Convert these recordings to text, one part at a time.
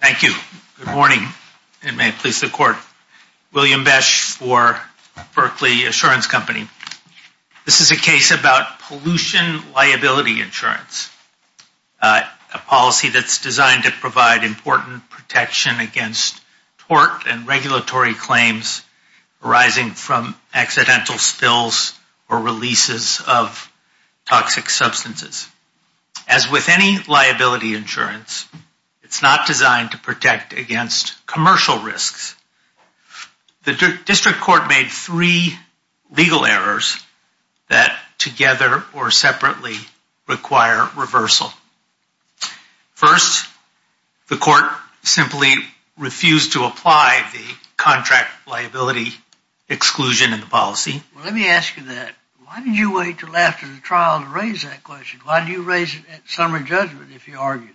Thank you. Good morning and may it please the court. William Besch for Berkley Assurance Company. This is a case about pollution liability insurance, a policy that's designed to provide important protection against tort and regulatory claims arising from accidental spills or releases of toxic substances. As with any liability insurance, it's not designed to protect against commercial risks. The district court made three legal errors that together or separately require reversal. First, the court simply refused to apply the contract liability exclusion in the trial. Why did you raise it at summary judgment if you argued it?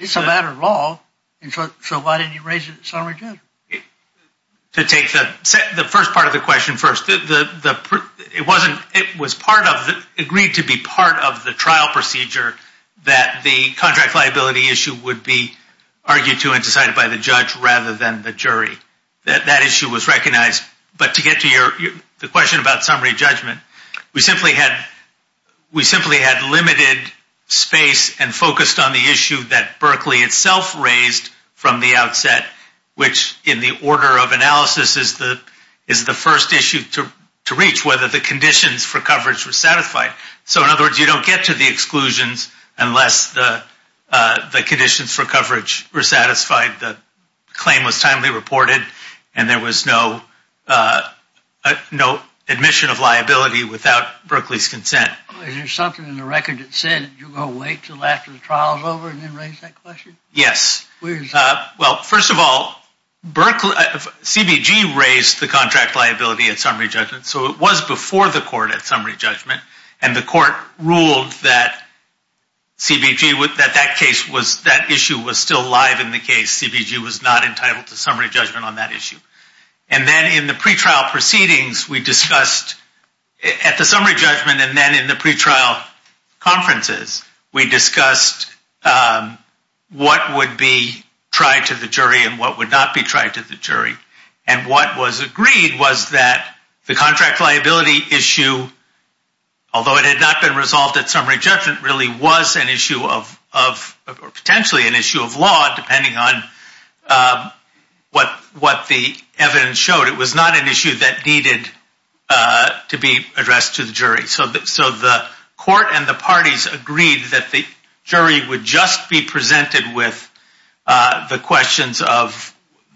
It's a matter of law, so why didn't you raise it at summary judgment? To take the first part of the question first, it was agreed to be part of the trial procedure that the contract liability issue would be decided by the judge rather than the jury. That issue was recognized, but to get to the question about summary judgment, we simply had limited space and focused on the issue that Berkley itself raised from the outset, which in the order of analysis is the first issue to reach, whether the conditions for coverage were satisfied. So in other words, you don't get to the exclusions unless the conditions for coverage were satisfied, the claim was timely reported, and there was no admission of liability without Berkley's consent. Is there something in the record that said you're going to wait until after the trial is over and then raise that question? Yes. Well, first of all, CBG raised the contract liability at summary judgment, so it was before the court at summary judgment, and the court ruled that CBG, that issue was still live in the case. CBG was not entitled to summary judgment on that issue. And then in the pretrial proceedings, we discussed at the summary judgment and then in the pretrial conferences, we discussed what would be tried to the jury and what would not be tried to the jury. And what was agreed was that the issue, although it had not been resolved at summary judgment, really was an issue of, potentially an issue of law, depending on what the evidence showed. It was not an issue that needed to be addressed to the jury. So the court and the parties agreed that the jury would just be presented with the questions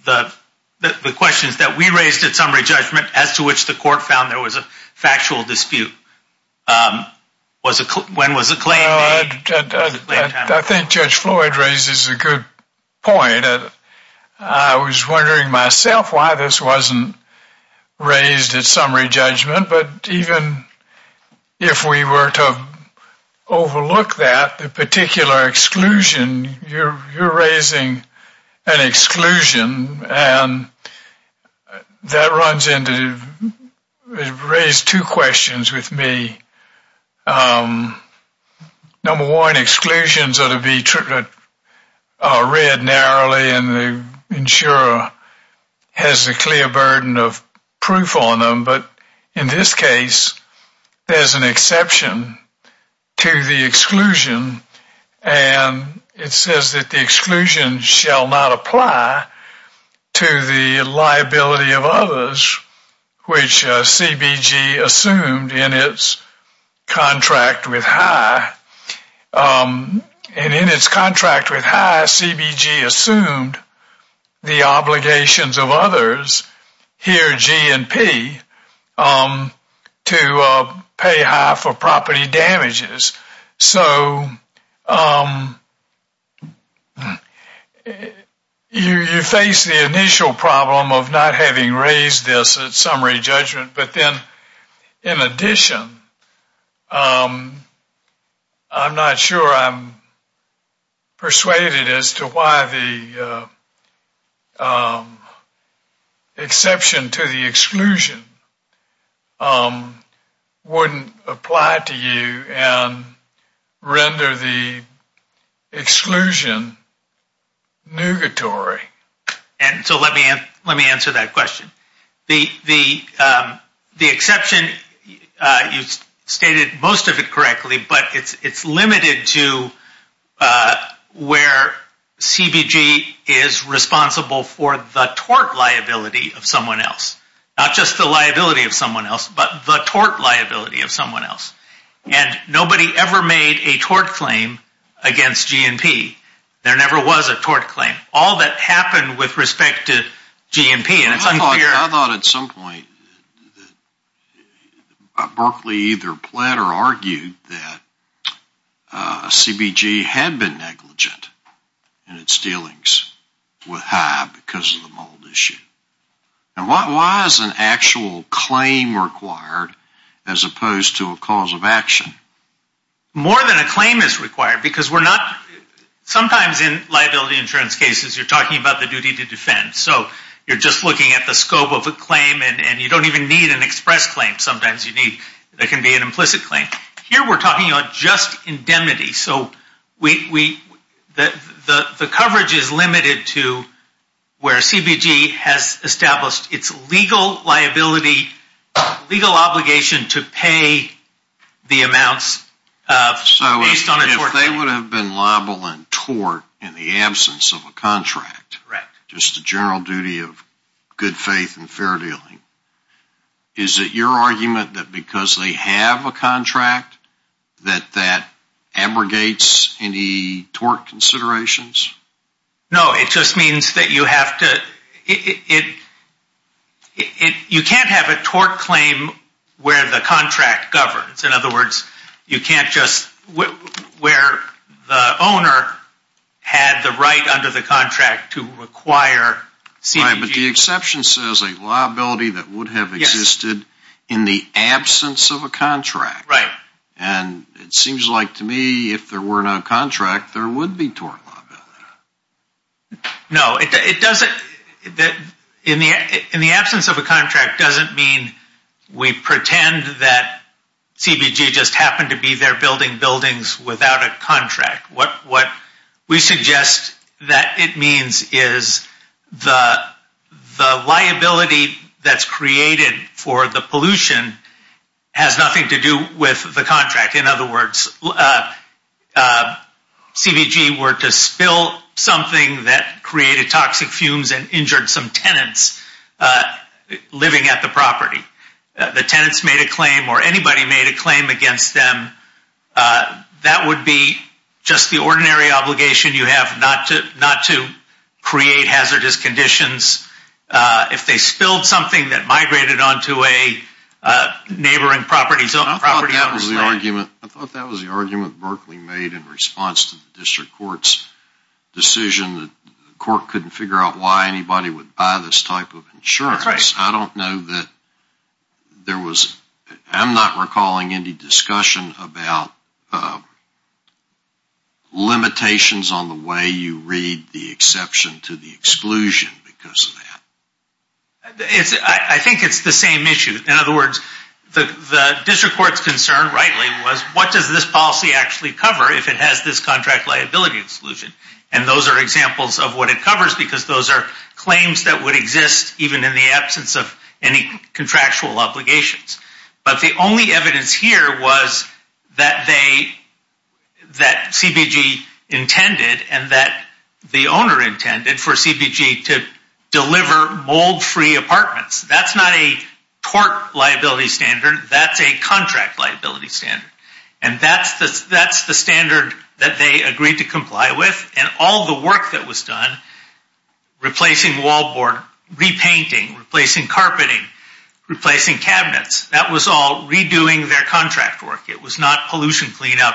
that we raised at summary judgment, as to which the court found there was a factual dispute. When was the claim made? I think Judge Floyd raises a good point. I was wondering myself why this wasn't raised at summary judgment, but even if we were to overlook that, the particular exclusion, you're raising an exclusion, and that runs into, it raised two questions with me. Number one, exclusions are to be read narrowly, and the insurer has a clear burden of proof on them. But in this case, there's an exception to the exclusion, and it says that the exclusion shall not apply to the liability of others, which CBG assumed in its contract with High. And in its contract with High, CBG assumed the obligations of others, here G and P, to pay High for property damages. So you face the initial problem of not having raised this at summary judgment, but then in addition, I'm not sure I'm persuaded as to why the exception to the exclusion wouldn't apply to you and render the exclusion nugatory. And so let me answer that question. The exception, you stated most of it correctly, but it's limited to where CBG is responsible for the tort liability of someone else. Not just the liability of someone else, but the tort liability of someone else. And nobody ever made a tort claim against G and P. There never was a tort claim. All that happened with respect to G and P. I thought at some point, that Berkeley either pled or argued that CBG had been negligent in its dealings with High because of the mold issue. And why is an actual claim required as opposed to a cause of action? More than a claim is required, because we're not, sometimes in liability insurance cases, you're talking about the duty to defend. So you're just looking at the scope of a claim, and you don't even need an express claim. Sometimes there can be an implicit claim. Here we're talking about just indemnity. So the coverage is limited to where CBG has established its legal liability, legal obligation to pay the amounts based on a tort claim. If they would have been liable in tort in the absence of a contract, just the general duty of good faith and fair dealing. Is it your argument that because they have a contract, that that abrogates any tort considerations? No, it just means that you have to, you can't have a tort claim where the contract governs. In other words, you can't just, where the owner had the right under the contract to require CBG. But the exception says a liability that would have existed in the absence of a contract. Right. And it seems like to me, if there were no contract, there would be tort liability. No, it doesn't. In the absence of a contract doesn't mean we pretend that CBG just happened to be there building buildings without a contract. What we suggest that it means is the liability that's created for the pollution has nothing to do with the contract. In other words, if CBG were to spill something that created toxic fumes and injured some tenants living at the property, the tenants made a claim or anybody made a claim against them, that would be just the ordinary obligation you have not to create hazardous conditions. If they spilled something that migrated onto a neighboring property. I thought that was the argument Berkley made in response to the district court's decision that the court couldn't figure out why anybody would buy this type of insurance. That's right. I don't know that there was, I'm not recalling any discussion about limitations on the way you read the exception to the exclusion because of that. I think it's the same issue. In other words, the district court's concern rightly was what does this policy actually cover if it has this contract liability exclusion? And those are examples of what it covers because those are claims that would exist even in the absence of any contractual obligations. But the only evidence here was that CBG intended and that the owner intended for CBG to deliver mold-free apartments. That's not a tort liability standard, that's a contract liability standard. And that's the standard that they agreed to comply with and all the work that was done replacing wallboard, repainting, replacing carpeting, replacing cabinets, that was all redoing their contract work. It was not pollution cleanup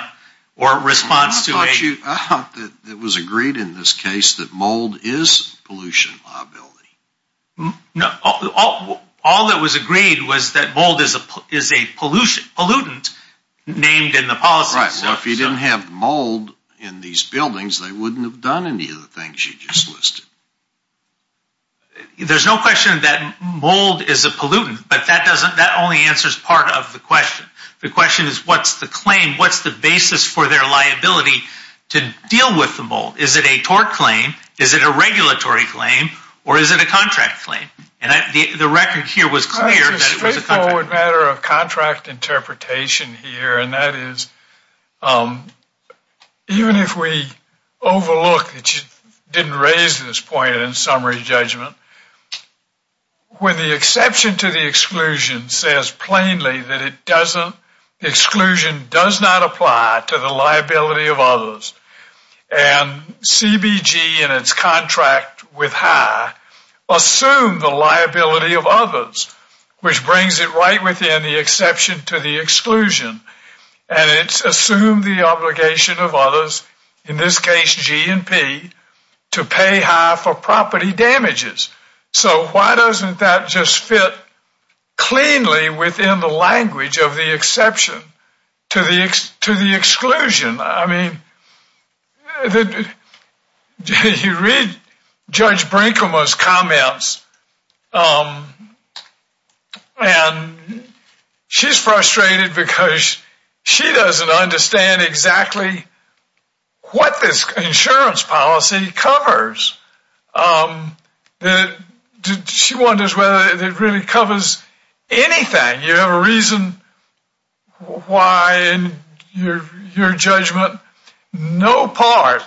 or response to it. I thought that it was agreed in this case that mold is pollution liability. No. All that was agreed was that mold is a pollutant named in the policy. Right. Well, if you didn't have mold in these buildings, they wouldn't have done any of the things you just listed. There's no question that mold is a pollutant, but that only answers part of the question. The question is, what's the claim? What's the basis for their liability to deal with the mold? Is it a tort claim? Is it a regulatory claim? Or is it a contract claim? And the record here was clear that it was a contract claim. It's a straightforward matter of contract interpretation here, and that is even if we overlook that you didn't raise this point in summary judgment, when the exception to the exclusion says plainly that it doesn't, the exclusion does not apply to the liability of others, and CBG and its contract with HAI assume the liability of others, which brings it right within the exception to the exclusion, and it's assumed the obligation of others, in this case G&P, to pay HAI for property damages. So why doesn't that just fit cleanly within the language of the exception to the exclusion? I mean, you read Judge Brinkema's comments, and she's frustrated because she doesn't understand exactly what this insurance policy covers. She wonders whether it really covers anything. You have a reason why, in your judgment, no part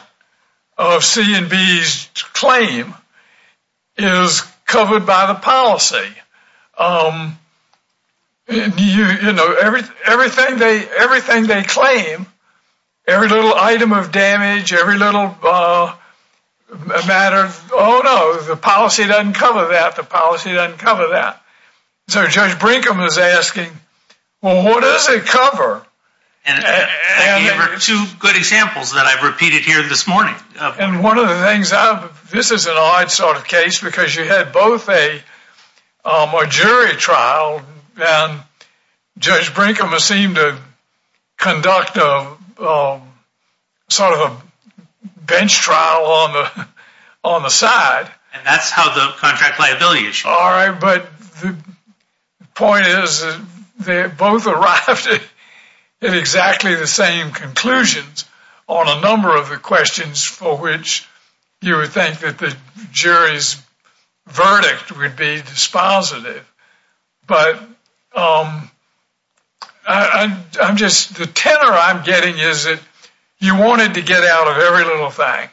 of C&B's claim is covered by the policy. You know, everything they claim, every little item of damage, every little matter of, oh no, the policy doesn't cover that, the policy doesn't cover that. So Judge Brinkema is asking, well, what does it cover? And I gave her two good examples that I've repeated here this morning. And one of the things, this is an odd sort of case because you had both a jury trial, and Judge Brinkema seemed to conduct a sort of a bench trial on the side. And that's how the contract liability issue. All right, but the point is they both arrived at exactly the same conclusions on a number of the questions for which you would think that the jury's verdict would be dispositive. But I'm just, the tenor I'm getting is that you wanted to get out of every little thing.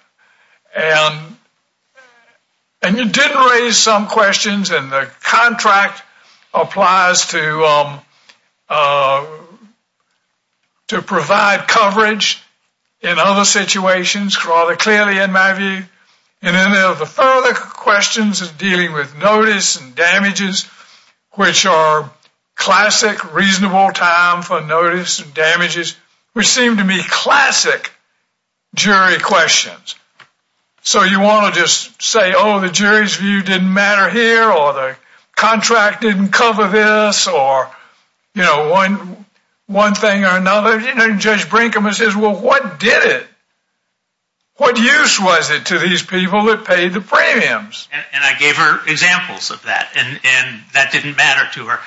And you did raise some questions, and the contract applies to provide coverage in other situations rather clearly, in my view. And then there are the further questions of dealing with notice and damages, which are classic reasonable time for notice and damages, which seem to be classic jury questions. So you want to just say, oh, the jury's view didn't matter here, or the contract didn't cover this, or, you know, one thing or another. You know, Judge Brinkema says, well, what did it? What use was it to these people that paid the premiums? And I gave her examples of that, and that didn't matter to her.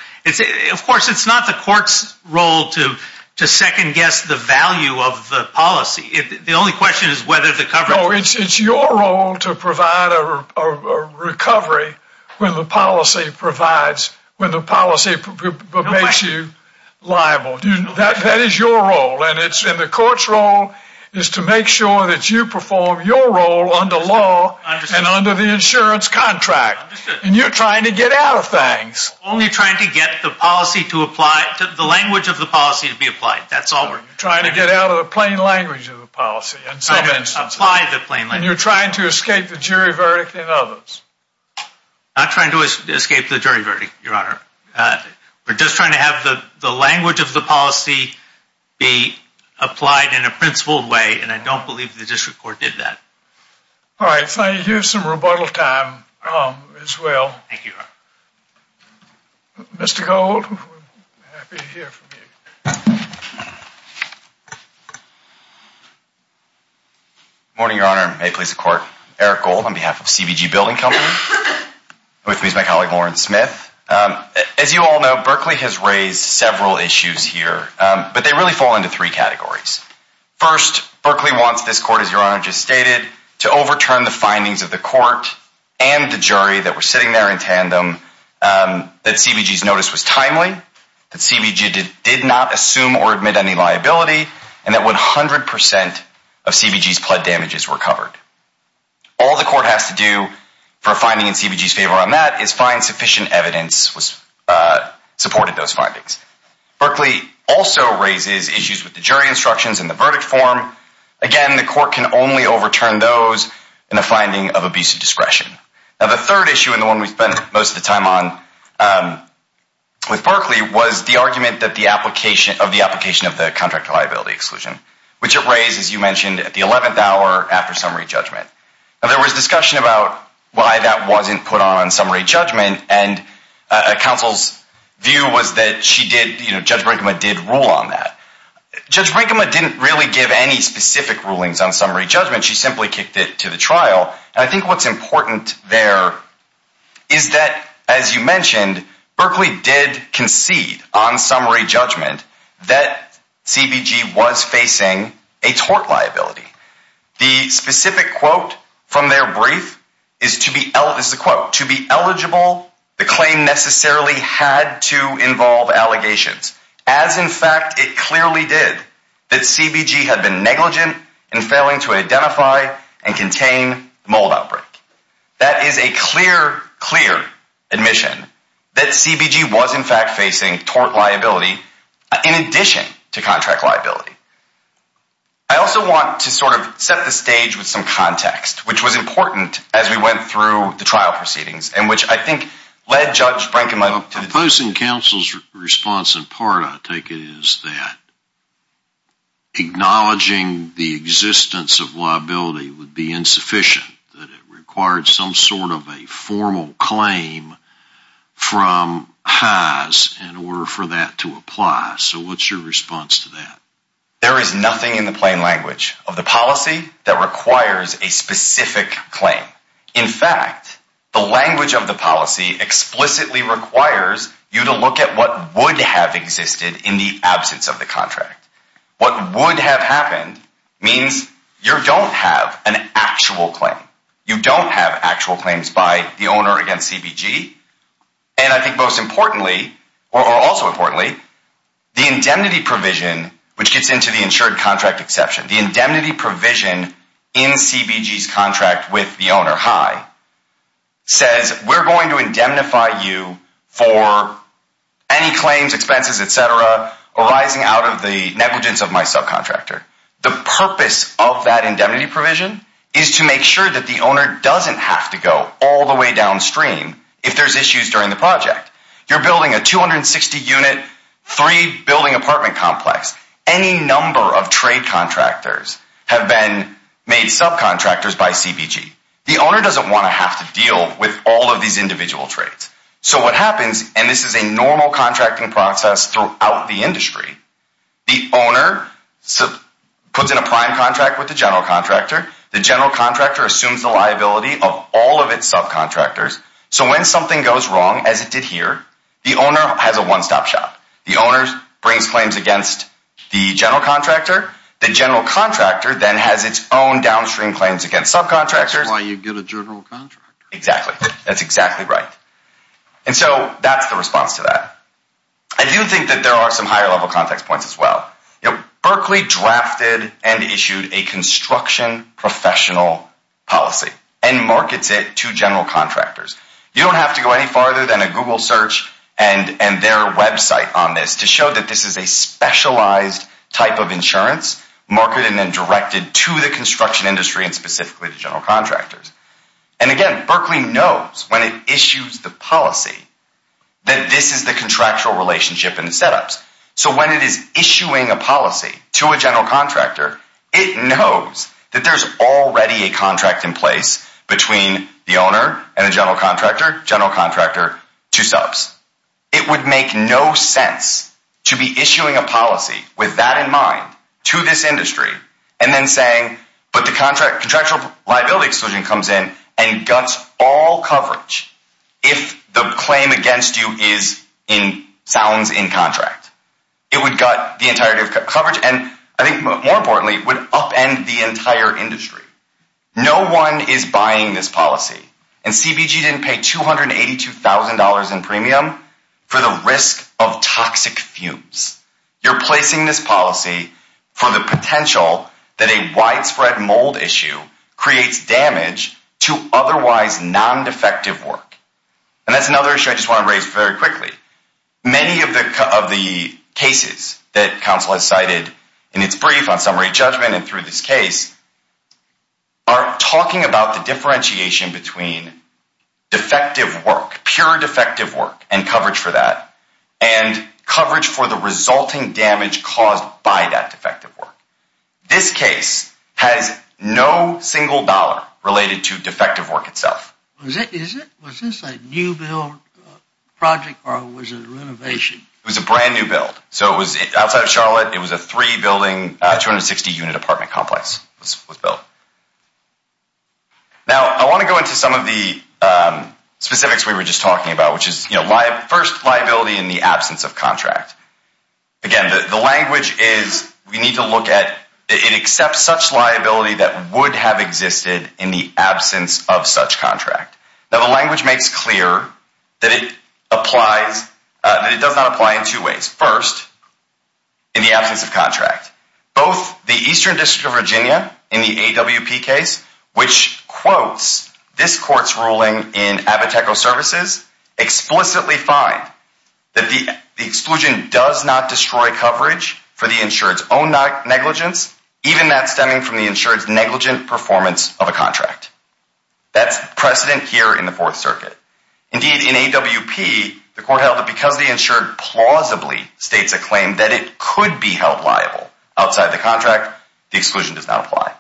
Of course, it's not the court's role to second-guess the value of the policy. The only question is whether the coverage... No, it's your role to provide a recovery when the policy provides, when the policy makes you liable. That is your role, and the court's role is to make sure that you perform your role under law and under the insurance contract, and you're trying to get out of things. Only trying to get the policy to apply, the language of the policy to be applied. That's all we're... Trying to get out of the plain language of the policy, in some instances. And you're trying to escape the jury verdict in others. Not trying to escape the jury verdict, Your Honor. We're just trying to have the language of the policy be applied in a principled way, and I don't believe the District Court did that. All right. Thank you. Some rebuttal time as well. Thank you, Your Honor. Mr. Gold, happy to hear from you. Good morning, Your Honor. May it please the Court. Eric Gold on behalf of CBG Building Company, with me is my colleague, Warren Smith. As you all know, Berkeley has raised several issues here, but they really fall into three categories. First, Berkeley wants this court, as Your Honor just stated, to overturn the findings of the court and the jury that were sitting there in tandem, that CBG's notice was timely, that CBG did not assume or admit any liability, and that 100% of CBG's pled damages were covered. All the court has to do for a finding in CBG's favor on that is find sufficient evidence, which supported those findings. Berkeley also raises issues with the jury instructions and the verdict form. Again, the court can only overturn those in the finding of abusive discretion. Now, the third issue, and the one we spend most of the time on with Berkeley, was the argument of the application of the contract liability exclusion, which it raised, as you mentioned, at the 11th hour after summary judgment. Now, there was discussion about why that wasn't put on summary judgment, and counsel's view was that Judge Brinkman did rule on that. Judge Brinkman didn't really give any specific rulings on summary judgment. She simply kicked it to the trial. And I think what's important there is that, as you mentioned, Berkeley did concede on summary judgment that CBG was facing a tort liability. The specific quote from their brief is, this is a quote, to be eligible, the claim necessarily had to involve allegations, as in fact, it clearly did, that CBG had been negligent in failing to identify and contain mold outbreak. That is a clear, clear admission that CBG was in fact facing tort liability, in addition to contract liability. I also want to sort of set the stage with some context, which was important as we went through the trial proceedings, and which I think led Judge Brinkman to the- Proposing counsel's response in part, I take it, is that acknowledging the existence of liability would be insufficient, that it required some sort of a formal claim from HAAS in order for that to apply. So what's your response to that? There is nothing in the plain language of the policy that requires a specific claim. In fact, the language of the policy explicitly requires you to look at what would have existed in the absence of the contract. What would have happened means you don't have an actual claim. You don't have actual claims by the owner against CBG. And I think most importantly, or also importantly, the indemnity provision, which gets into the insured contract exception, the indemnity provision in CBG's contract with the owner, HAI, says we're going to indemnify you for any claims, expenses, etc., arising out of the negligence of my subcontractor. The purpose of that indemnity provision is to make sure that the owner doesn't have to go all the way downstream if there's issues during the project. You're building a 260-unit, three-building apartment complex. Any number of trade contractors have been made subcontractors by CBG. The owner doesn't want to have to deal with all of these individual trades. So what happens, and this is a normal contracting process throughout the industry, the owner puts in a prime contract with the general contractor. The general contractor assumes the liability of all of its subcontractors. So when something goes wrong, as it did here, the owner has a one-stop shop. The owner brings claims against the general contractor. The general contractor then has its own downstream claims against subcontractors. That's why you get a general contractor. Exactly. That's exactly right. And so that's the response to that. I do think that there are some higher-level context points as well. You know, Berkeley drafted and issued a construction professional policy and markets it to general contractors. You don't have to go any farther than a Google search and their website on this to show that this is a specialized type of insurance, marketed and directed to the construction industry and specifically to general contractors. And again, Berkeley knows when it issues the policy that this is the contractual relationship in the setups. So when it is issuing a policy to a general contractor, it knows that there's already a contract in place between the owner and the general contractor, general contractor to subs. It would make no sense to be issuing a policy with that in mind to this industry and then saying, but the contractual liability exclusion comes in and guts all coverage if the claim against you sounds in contract. It would gut the entirety of coverage. And I think more importantly, it would upend the entire industry. No one is buying this policy. And CBG didn't pay $282,000 in premium for the risk of toxic fumes. You're placing this policy for the potential that a widespread mold issue creates damage to otherwise non-defective work. And that's another issue I just want to raise very quickly. Many of the cases that counsel has cited in its brief on summary judgment and through this case are talking about the differentiation between defective work, pure defective work and coverage for that and coverage for the resulting damage caused by that defective work. This case has no single dollar related to defective work itself. Is it? Was this a new build project or was it a renovation? It was a brand new build. So it was outside of Charlotte. It was a three building, 260 unit apartment complex was built. Now, I want to go into some of the specifics we were just talking about, which is first liability in the absence of contract. Again, the language is we need to look at it except such liability that would have existed in the absence of such contract. The language makes clear that it does not apply in two ways. First, in the absence of contract. Both the Eastern District of Virginia in the AWP case, which quotes this court's ruling in Abiteco Services, explicitly find that the exclusion does not destroy coverage for the insured's own negligence, even that stemming from the insured's negligent performance of a contract. That's precedent here in the Fourth Circuit. Indeed, in AWP, the court held that because the insured plausibly states a claim that it could be held liable outside the contract, the exclusion does not apply.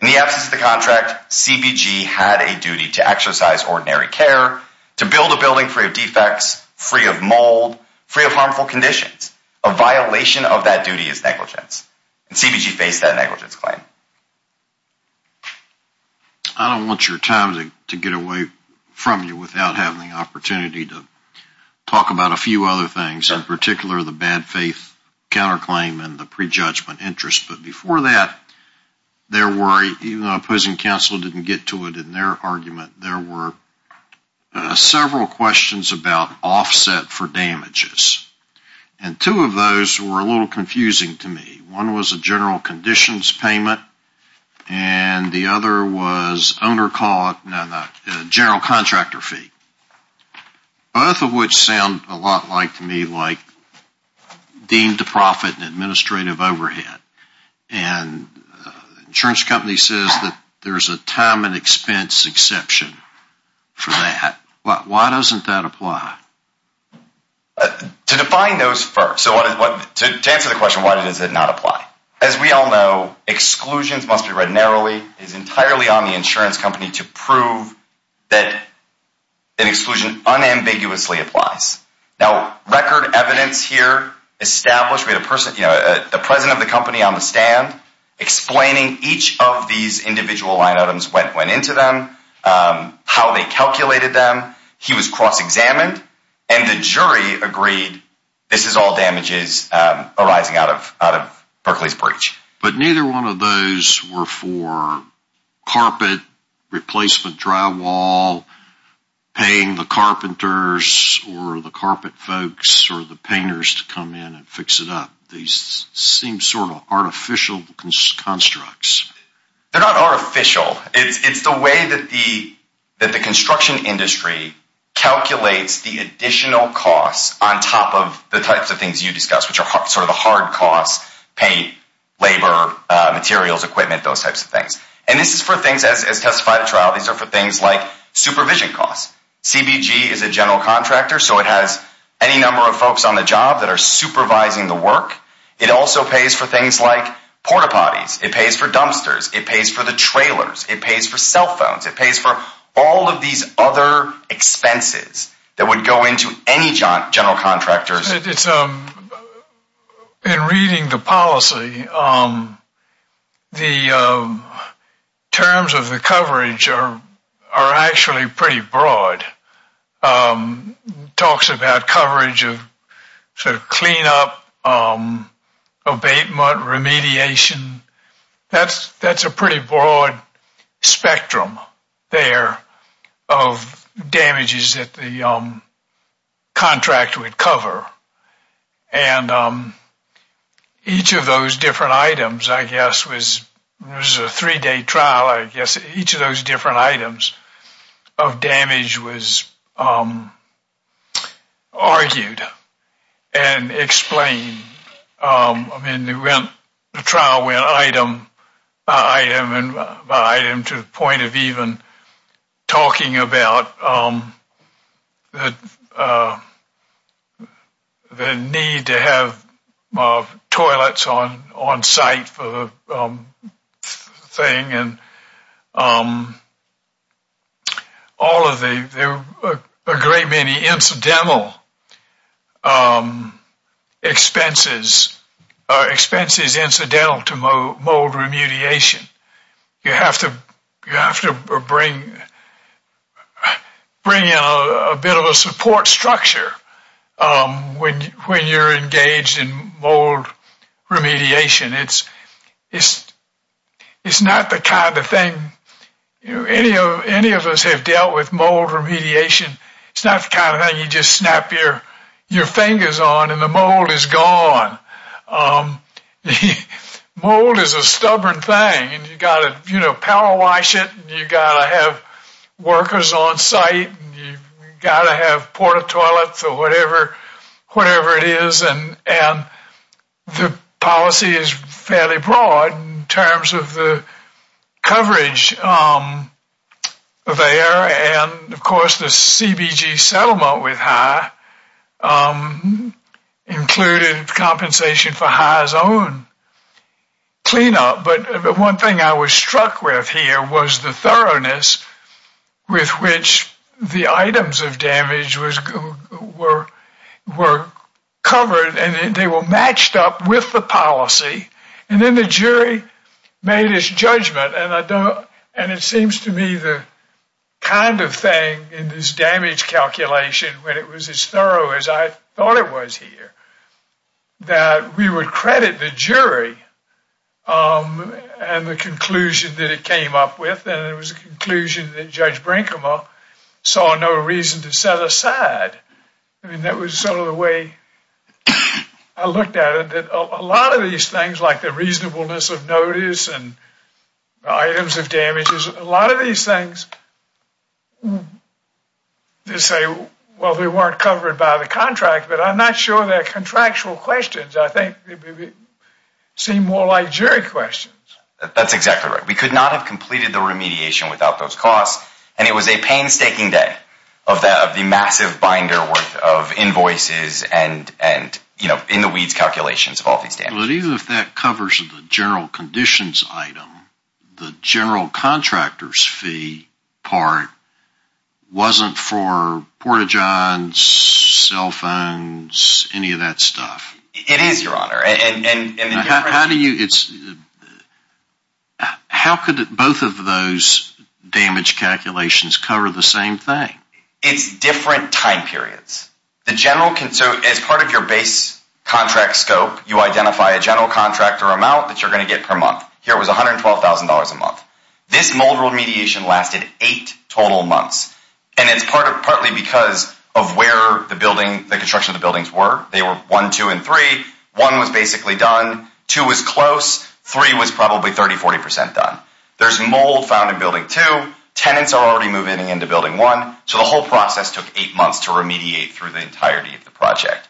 In the absence of the contract, CBG had a duty to exercise ordinary care, to build a building free of defects, free of mold, free of harmful conditions. A violation of that duty is negligence. And CBG faced that negligence claim. I don't want your time to get away from you without having the opportunity to talk about a few other things, in particular the bad faith counterclaim and the prejudgment interest. But before that, there were, even though opposing counsel didn't get to it in their argument, there were several questions about offset for damages. And two of those were a little confusing to me. One was a general conditions payment, and the other was general contractor fee. Both of which sound a lot like to me like deemed to profit and administrative overhead. And the insurance company says that there's a time and expense exception for that. But why doesn't that apply? To define those first, so to answer the question, why does it not apply? As we all know, exclusions must be read narrowly, is entirely on the insurance company to prove that an exclusion unambiguously applies. Now, record evidence here established, we had a person, the president of the company on the stand, explaining each of these individual line items went into them, how they calculated them. He was cross-examined. And the jury agreed, this is all damages arising out of Berkeley's breach. But neither one of those were for carpet, replacement drywall, paying the carpenters or the carpet folks or the painters to come in and fix it up. These seem sort of artificial constructs. They're not artificial. It's the way that the construction industry calculates the additional costs on top of the types of things you discussed, which are sort of the hard costs, paint, labor, materials, equipment, those types of things. And this is for things, as testified at trial, these are for things like supervision costs. CBG is a general contractor, so it has any number of folks on the job that are supervising the work. It also pays for things like porta-potties. It pays for dumpsters. It pays for the trailers. It pays for cell phones. It pays for all of these other expenses that would go into any general contractors. In reading the policy, the terms of the coverage are actually pretty broad. Talks about coverage of sort of cleanup, abatement, remediation. That's a pretty broad spectrum. They're of damages that the contract would cover. And each of those different items, I guess, was a three-day trial. I guess each of those different items of damage was argued and explained. I mean, the trial went item by item to the point of even talking about the need to have toilets on site for the thing. All of the great many incidental expenses, expenses incidental to mold remediation. You have to bring in a bit of a support structure when you're engaged in mold remediation. It's not the kind of thing, any of us have dealt with mold remediation. It's not the kind of thing you just snap your fingers on and the mold is gone. Mold is a stubborn thing and you gotta power wash it. You gotta have workers on site. You gotta have port of toilets or whatever it is. The policy is fairly broad in terms of the coverage there. And of course, the CBG settlement with HIE included compensation for HIE's own cleanup. But the one thing I was struck with here was the thoroughness with which the items of damage were covered and they were matched up with the policy. And then the jury made his judgment. And it seems to me the kind of thing in this damage calculation, when it was as thorough as I thought it was here, that we would credit the jury and the conclusion that it came up with. And it was a conclusion that Judge Brinkema saw no reason to set aside. I mean, that was sort of the way I looked at it. That a lot of these things, like the reasonableness of notice and items of damages, a lot of these things, they say, well, they weren't covered by the contract, but I'm not sure they're contractual questions. I think they seem more like jury questions. That's exactly right. We could not have completed the remediation without those costs. And it was a painstaking day of the massive binder worth of invoices and in-the-weeds calculations of all these damages. But even if that covers the general conditions item, the general contractor's fee part wasn't for port-a-johns, cell phones, any of that stuff. It is, Your Honor. How could both of those damage calculations cover the same thing? It's different time periods. As part of your base contract scope, you identify a general contractor amount that you're going to get per month. Here it was $112,000 a month. This mold remediation lasted eight total months. And it's partly because of where the building, the construction of the buildings were. They were one, two, and three. One was basically done. Two was close. Three was probably 30, 40% done. There's mold found in building two. Tenants are already moving into building one. So the whole process took eight months to remediate through the entirety of the project.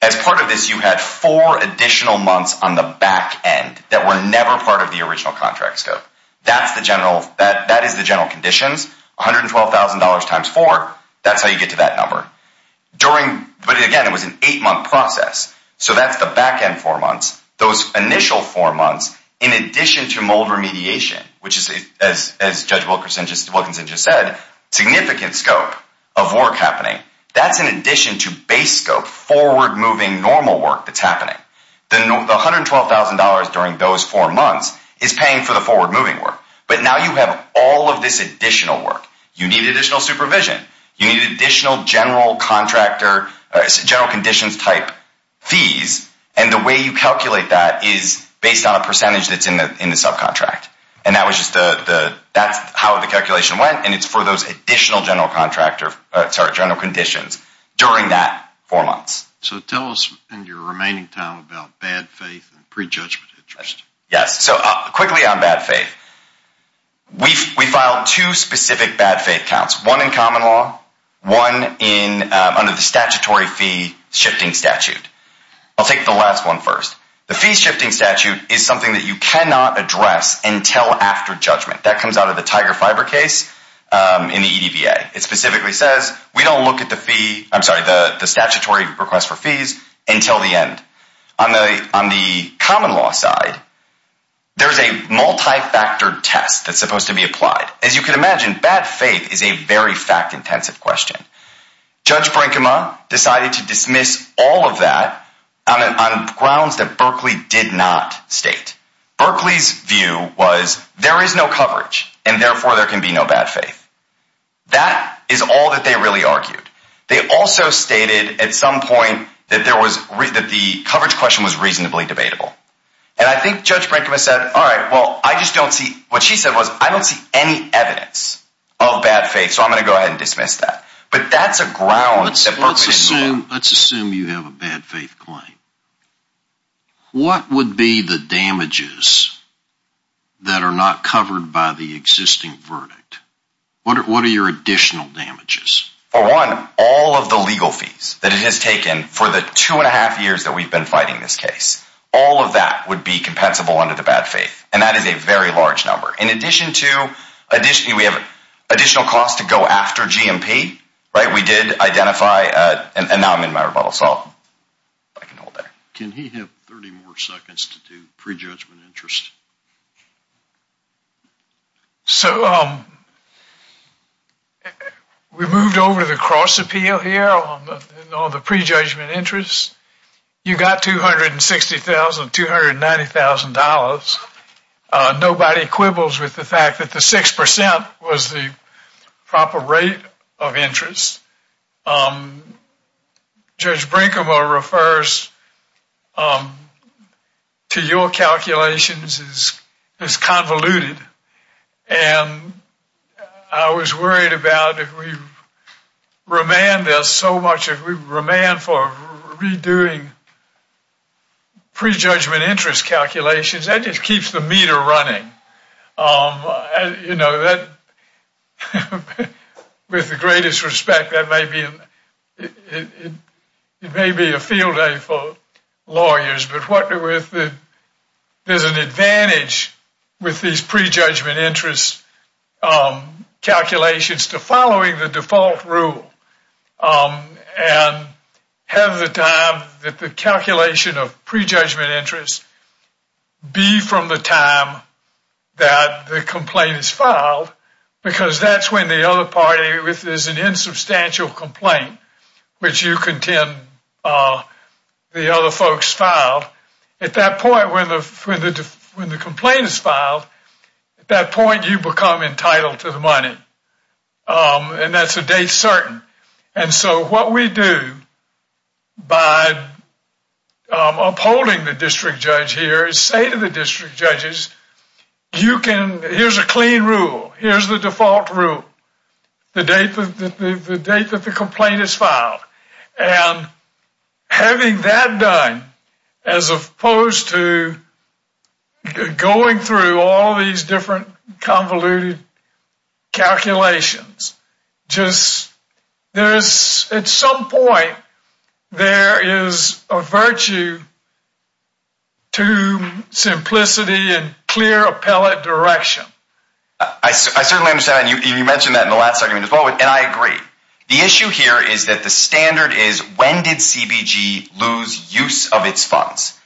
As part of this, you had four additional months on the back end that were never part of the original contract scope. That is the general conditions. $112,000 times four. That's how you get to that number. During, but again, it was an eight-month process. So that's the back end four months. Those initial four months, in addition to mold remediation, which is, as Judge Wilkinson just said, significant scope of work happening. That's in addition to base scope, forward-moving normal work that's happening. The $112,000 during those four months is paying for the forward-moving work. But now you have all of this additional work. You need additional supervision. You need additional general contractor, general conditions type fees. And the way you calculate that is based on a percentage that's in the subcontract. And that's how the calculation went. And it's for those additional general conditions during that four months. So tell us in your remaining time about bad faith and prejudgment interest. Yes, so quickly on bad faith. We filed two specific bad faith counts. One in common law, one under the statutory fee shifting statute. I'll take the last one first. The fee shifting statute is something that you cannot address until after judgment. That comes out of the Tiger Fiber case in the EDVA. It specifically says we don't look at the fee, I'm sorry, the statutory request for fees until the end. On the common law side, there's a multi-factor test that's supposed to be applied. As you can imagine, bad faith is a very fact-intensive question. Judge Brinkema decided to dismiss all of that on grounds that Berkeley did not state. Berkeley's view was there is no coverage, and therefore there can be no bad faith. That is all that they really argued. They also stated at some point that the coverage question was reasonably debatable. And I think Judge Brinkema said, all right, well, I just don't see, what she said was, I don't see any evidence of bad faith, so I'm going to go ahead and dismiss that. But that's a ground that Berkeley didn't have. Let's assume you have a bad faith claim. What would be the damages that are not covered by the existing verdict? What are your additional damages? For one, all of the legal fees that it has taken for the two and a half years that we've been fighting this case, all of that would be compensable under the bad faith. And that is a very large number. In addition to, we have additional costs to go after GMP, right? We did identify, and now I'm in my rebuttal, so I can hold that. Can he have 30 more seconds to do prejudgment interest? So we moved over to the cross appeal here on the prejudgment interest. You got $260,000, $290,000. Nobody quibbles with the fact that the 6% was the proper rate of interest. Judge Brinkema refers to your calculations as convoluted. And I was worried about if we remand this so much, if we remand for redoing prejudgment interest calculations, that just keeps the meter running. With the greatest respect, it may be a field day for lawyers, but there's an advantage with these prejudgment interest calculations to following the default rule and have the time that the calculation of prejudgment interest be from the time that the complaint is filed, because that's when the other party, if there's an insubstantial complaint, which you contend the other folks filed, at that point when the complaint is filed, at that point you become entitled to the money. And that's a day certain. And so what we do by upholding the district judge here is say to the district judges, you can, here's a clean rule, here's the default rule, the date that the complaint is filed. And having that done, as opposed to going through all these different convoluted calculations, just there's, at some point, there is a virtue to simplicity and clear appellate direction. I certainly understand. You mentioned that in the last segment as well, and I agree. The issue here is that the standard is, when did CBG lose use of its funds?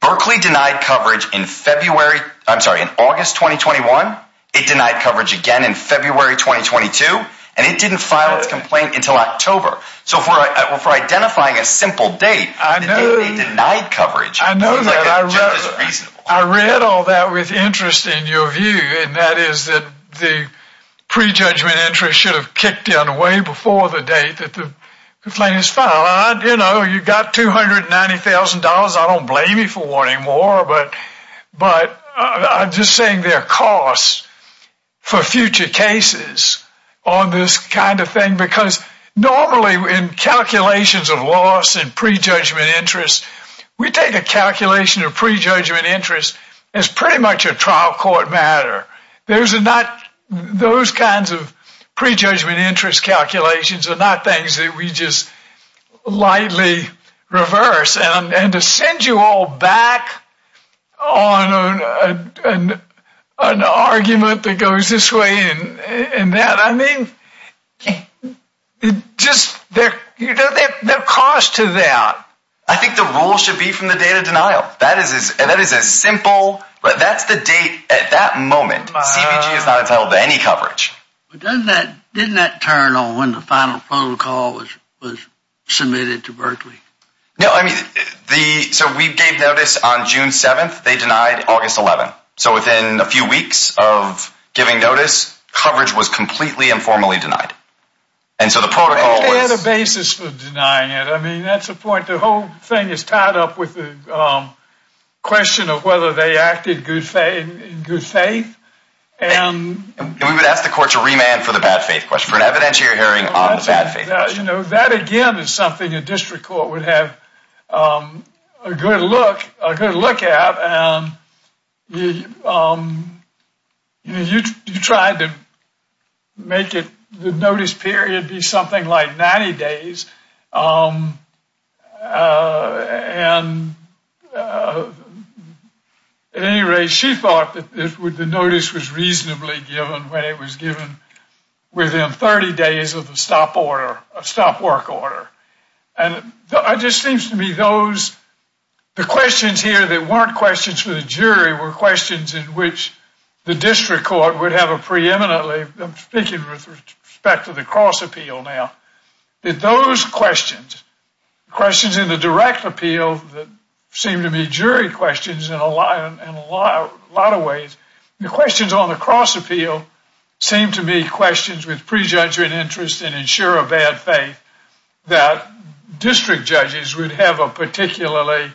Berkeley denied coverage in February, I'm sorry, in August 2021. It denied coverage again in February, 2022, and it didn't file its complaint until October. So for identifying a simple date, the day they denied coverage. I read all that with interest in your view, and that is that the pre-judgment interest should have kicked in way before the date that the complaint is filed. You got $290,000. I don't blame you for wanting more, but I'm just saying there are costs for future cases on this kind of thing, because normally in calculations of loss and pre-judgment interest, we take a calculation of pre-judgment interest as pretty much a trial court matter. Those kinds of pre-judgment interest calculations are not things that we just lightly reverse. And to send you all back on an argument that goes this way and that, I mean, there are costs to that. I think the rule should be from the date of denial. That is a simple, that's the date at that moment, CBG is not entitled to any coverage. Didn't that turn on when the final protocol was submitted to Berkeley? No, I mean, so we gave notice on June 7th. They denied August 11th. So within a few weeks of giving notice, coverage was completely and formally denied. And so the protocol was- They had a basis for denying it. I mean, that's the point. The whole thing is tied up with the question of whether they acted in good faith. And we would ask the court to remand for the bad faith question, for an evidentiary hearing on the bad faith. You know, that again is something a district court would have a good look at. And you tried to make it, the notice period be something like 90 days. And at any rate, she thought that the notice was reasonably given when it was given within 30 days of the stop order, stop work order. And it just seems to me those, the questions here that weren't questions for the jury were questions in which the district court would have a preeminently, I'm speaking with respect to the cross appeal now, that those questions, questions in the direct appeal that seem to be jury questions in a lot of ways, the questions on the cross appeal seem to be questions with prejudging interest and ensure a bad faith that district judges would have a particularly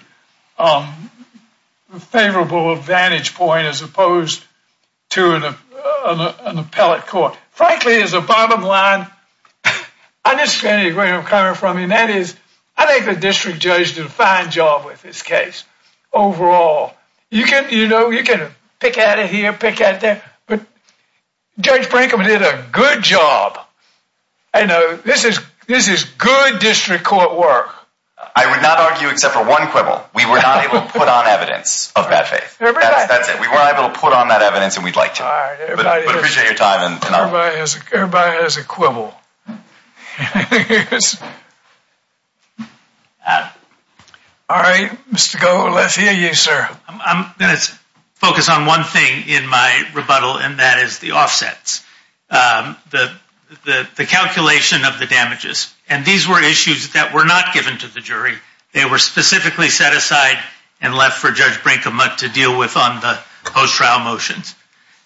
favorable advantage point as opposed to an appellate court. Frankly, as a bottom line, I just can't agree with where I'm coming from. And that is, I think the district judge did a fine job with this case overall. You can, you know, you can pick out of here, pick out there, but Judge Brinkman did a good job. I know this is good district court work. I would not argue except for one quibble. We were not able to put on evidence of bad faith. That's it. We weren't able to put on that evidence and we'd like to appreciate your time. Everybody has a quibble. All right, Mr. Gold, let's hear you, sir. I'm gonna focus on one thing in my rebuttal, and that is the offsets. The calculation of the damages, and these were issues that were not given to the jury. They were specifically set aside and left for Judge Brinkman to deal with on the post-trial motions.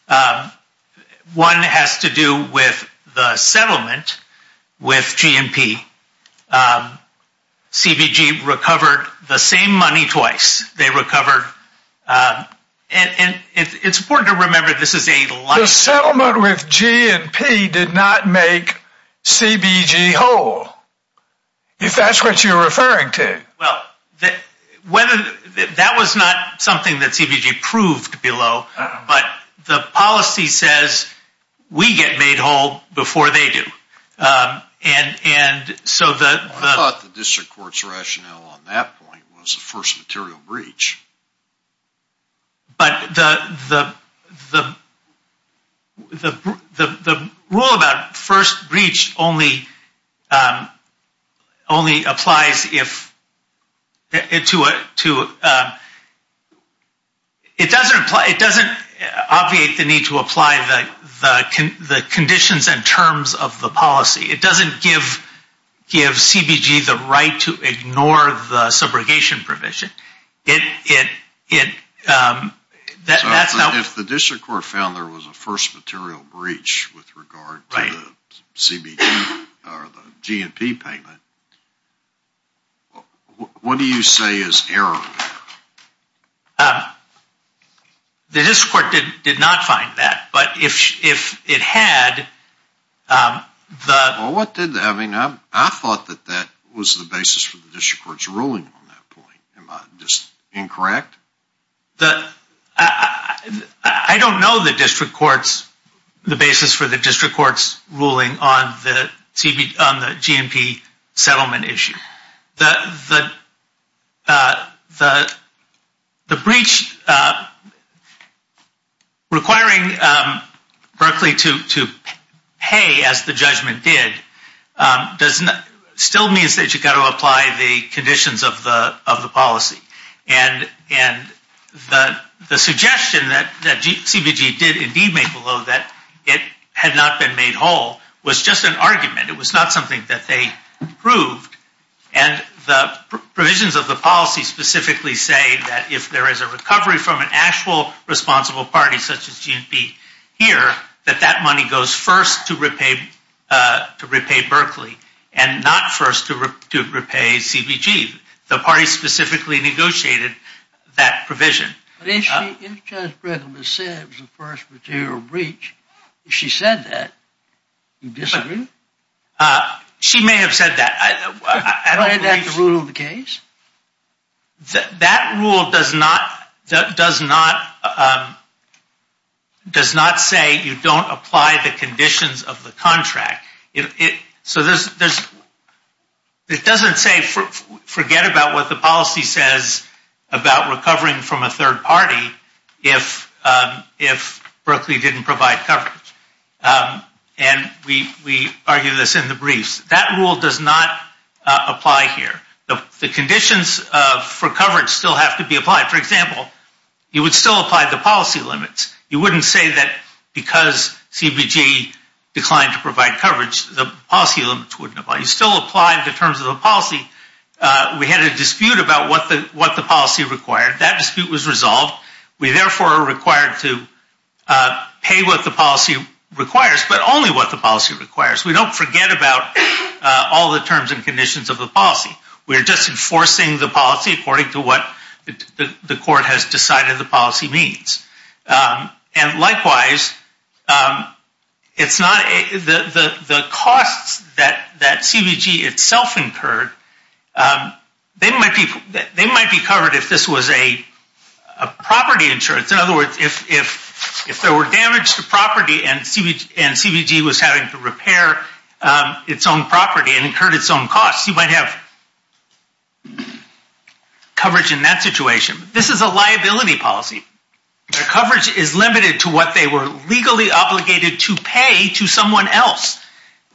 One has to do with the settlement with GMP. CBG recovered the same money twice. They recovered, and it's important to remember, this is a- The settlement with GMP did not make CBG whole, if that's what you're referring to. Well, that was not something that CBG proved below, but the policy says we get made whole before they do. And so the- I thought the district court's rationale on that point was the first material breach. But the rule about first breach only applies if- It doesn't obviate the need to apply the conditions and terms of the policy. It doesn't give CBG the right to ignore the subrogation provision. It- If the district court found there was a first material breach with regard to the CBG or the GMP payment, what do you say is error? The district court did not find that, but if it had, the- Well, what did- I mean, I thought that that was the basis for the district court's ruling on that point. Am I just incorrect? I don't know the district court's- the basis for the district court's ruling on the GMP settlement issue. The breach requiring Berkeley to pay, as the judgment did, does not- still means that you've got to apply the conditions of the policy. And the suggestion that CBG did indeed make, although that it had not been made whole, was just an argument. It was not something that they proved. And the provisions of the policy specifically say that if there is a recovery from an actual responsible party such as GMP here, that that money goes first to repay Berkeley and not first to repay CBG. The party specifically negotiated that provision. But if Judge Brigham has said it was the first material breach, if she said that, do you disagree? She may have said that. Isn't that the rule of the case? That rule does not say you don't apply the conditions of the contract. So it doesn't say forget about what the policy says about recovering from a third party if Berkeley didn't provide coverage. And we argue this in the briefs. That rule does not apply here. The conditions for coverage still have to be applied. For example, you would still apply the policy limits. You wouldn't say that because CBG declined to provide coverage, the policy limits wouldn't apply. You still apply the terms of the policy. We had a dispute about what the policy required. That dispute was resolved. We therefore are required to pay what the policy requires, but only what the policy requires. We don't forget about all the terms and conditions of the policy. We're just enforcing the policy according to what the court has decided the policy needs. And likewise, the costs that CBG itself incurred, they might be covered if this was a property insurance. In other words, if there were damage to property and CBG was having to repair its own property and incurred its own costs, you might have coverage in that situation. This is a liability policy. Their coverage is limited to what they were legally obligated to pay to someone else.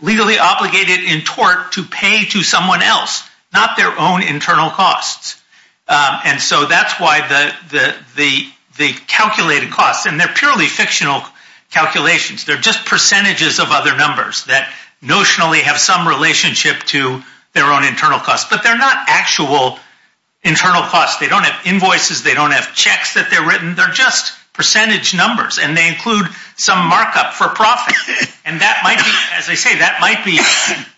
Legally obligated in tort to pay to someone else, not their own internal costs. And so that's why the calculated costs, and they're purely fictional calculations. They're just percentages of other numbers that notionally have some relationship to their own internal costs. But they're not actual internal costs. They don't have invoices. They don't have checks that they're written. They're just percentage numbers. And they include some markup for profit. And that might be, as I say, that might be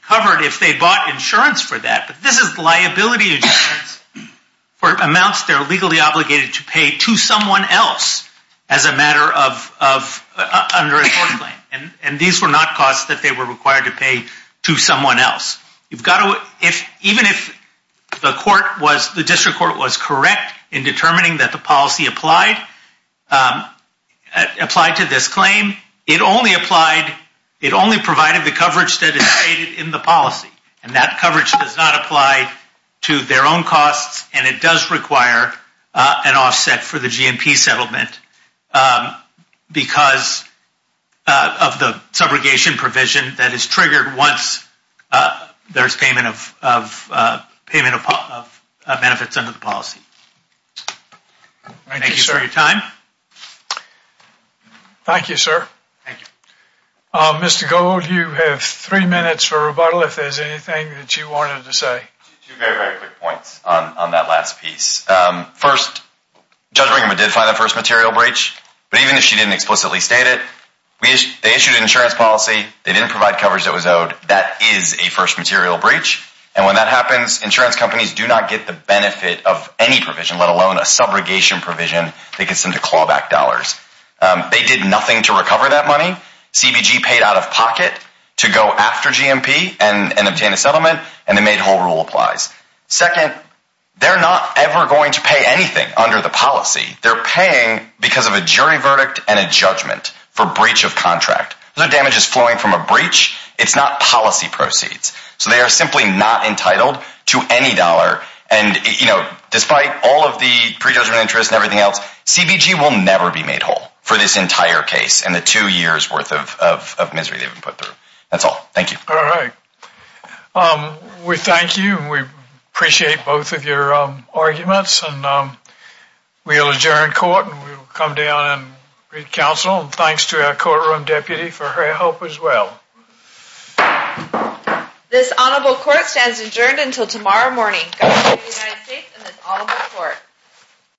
covered if they bought insurance for that. But this is liability insurance for amounts they're legally obligated to pay to someone else as a matter of under a tort claim. And these were not costs that they were required to pay to someone else. You've got to, even if the court was, the district court was correct in determining that the policy applied to this claim, it only applied, it only provided the coverage that is stated in the policy. And that coverage does not apply to their own costs. And it does require an offset for the GMP settlement because of the subrogation provision that is triggered once there's payment of benefits under the policy. Thank you for your time. Thank you, sir. Thank you. Mr. Gold, you have three minutes for rebuttal if there's anything that you wanted to say. Two very, very quick points on that last piece. First, Judge Ringeman did find the first material breach. But even if she didn't explicitly state it, they issued an insurance policy. They didn't provide coverage that was owed. That is a first material breach. And when that happens, insurance companies do not get the benefit of any provision, let alone a subrogation provision that gets them to claw back dollars. They did nothing to recover that money. CBG paid out of pocket to go after GMP and obtain a settlement. And they made whole rule applies. Second, they're not ever going to pay anything under the policy. They're paying because of a jury verdict and a judgment for breach of contract. Those are damages flowing from a breach. It's not policy proceeds. So they are simply not entitled to any dollar. And despite all of the pre-judgment interest and everything else, CBG will never be made whole for this entire case and the two years worth of misery they've been put through. That's all. Thank you. All right. We thank you. We appreciate both of your arguments. And we'll adjourn court. And we'll come down and read counsel. Thanks to our courtroom deputy for her help as well. This honorable court stands adjourned until tomorrow morning.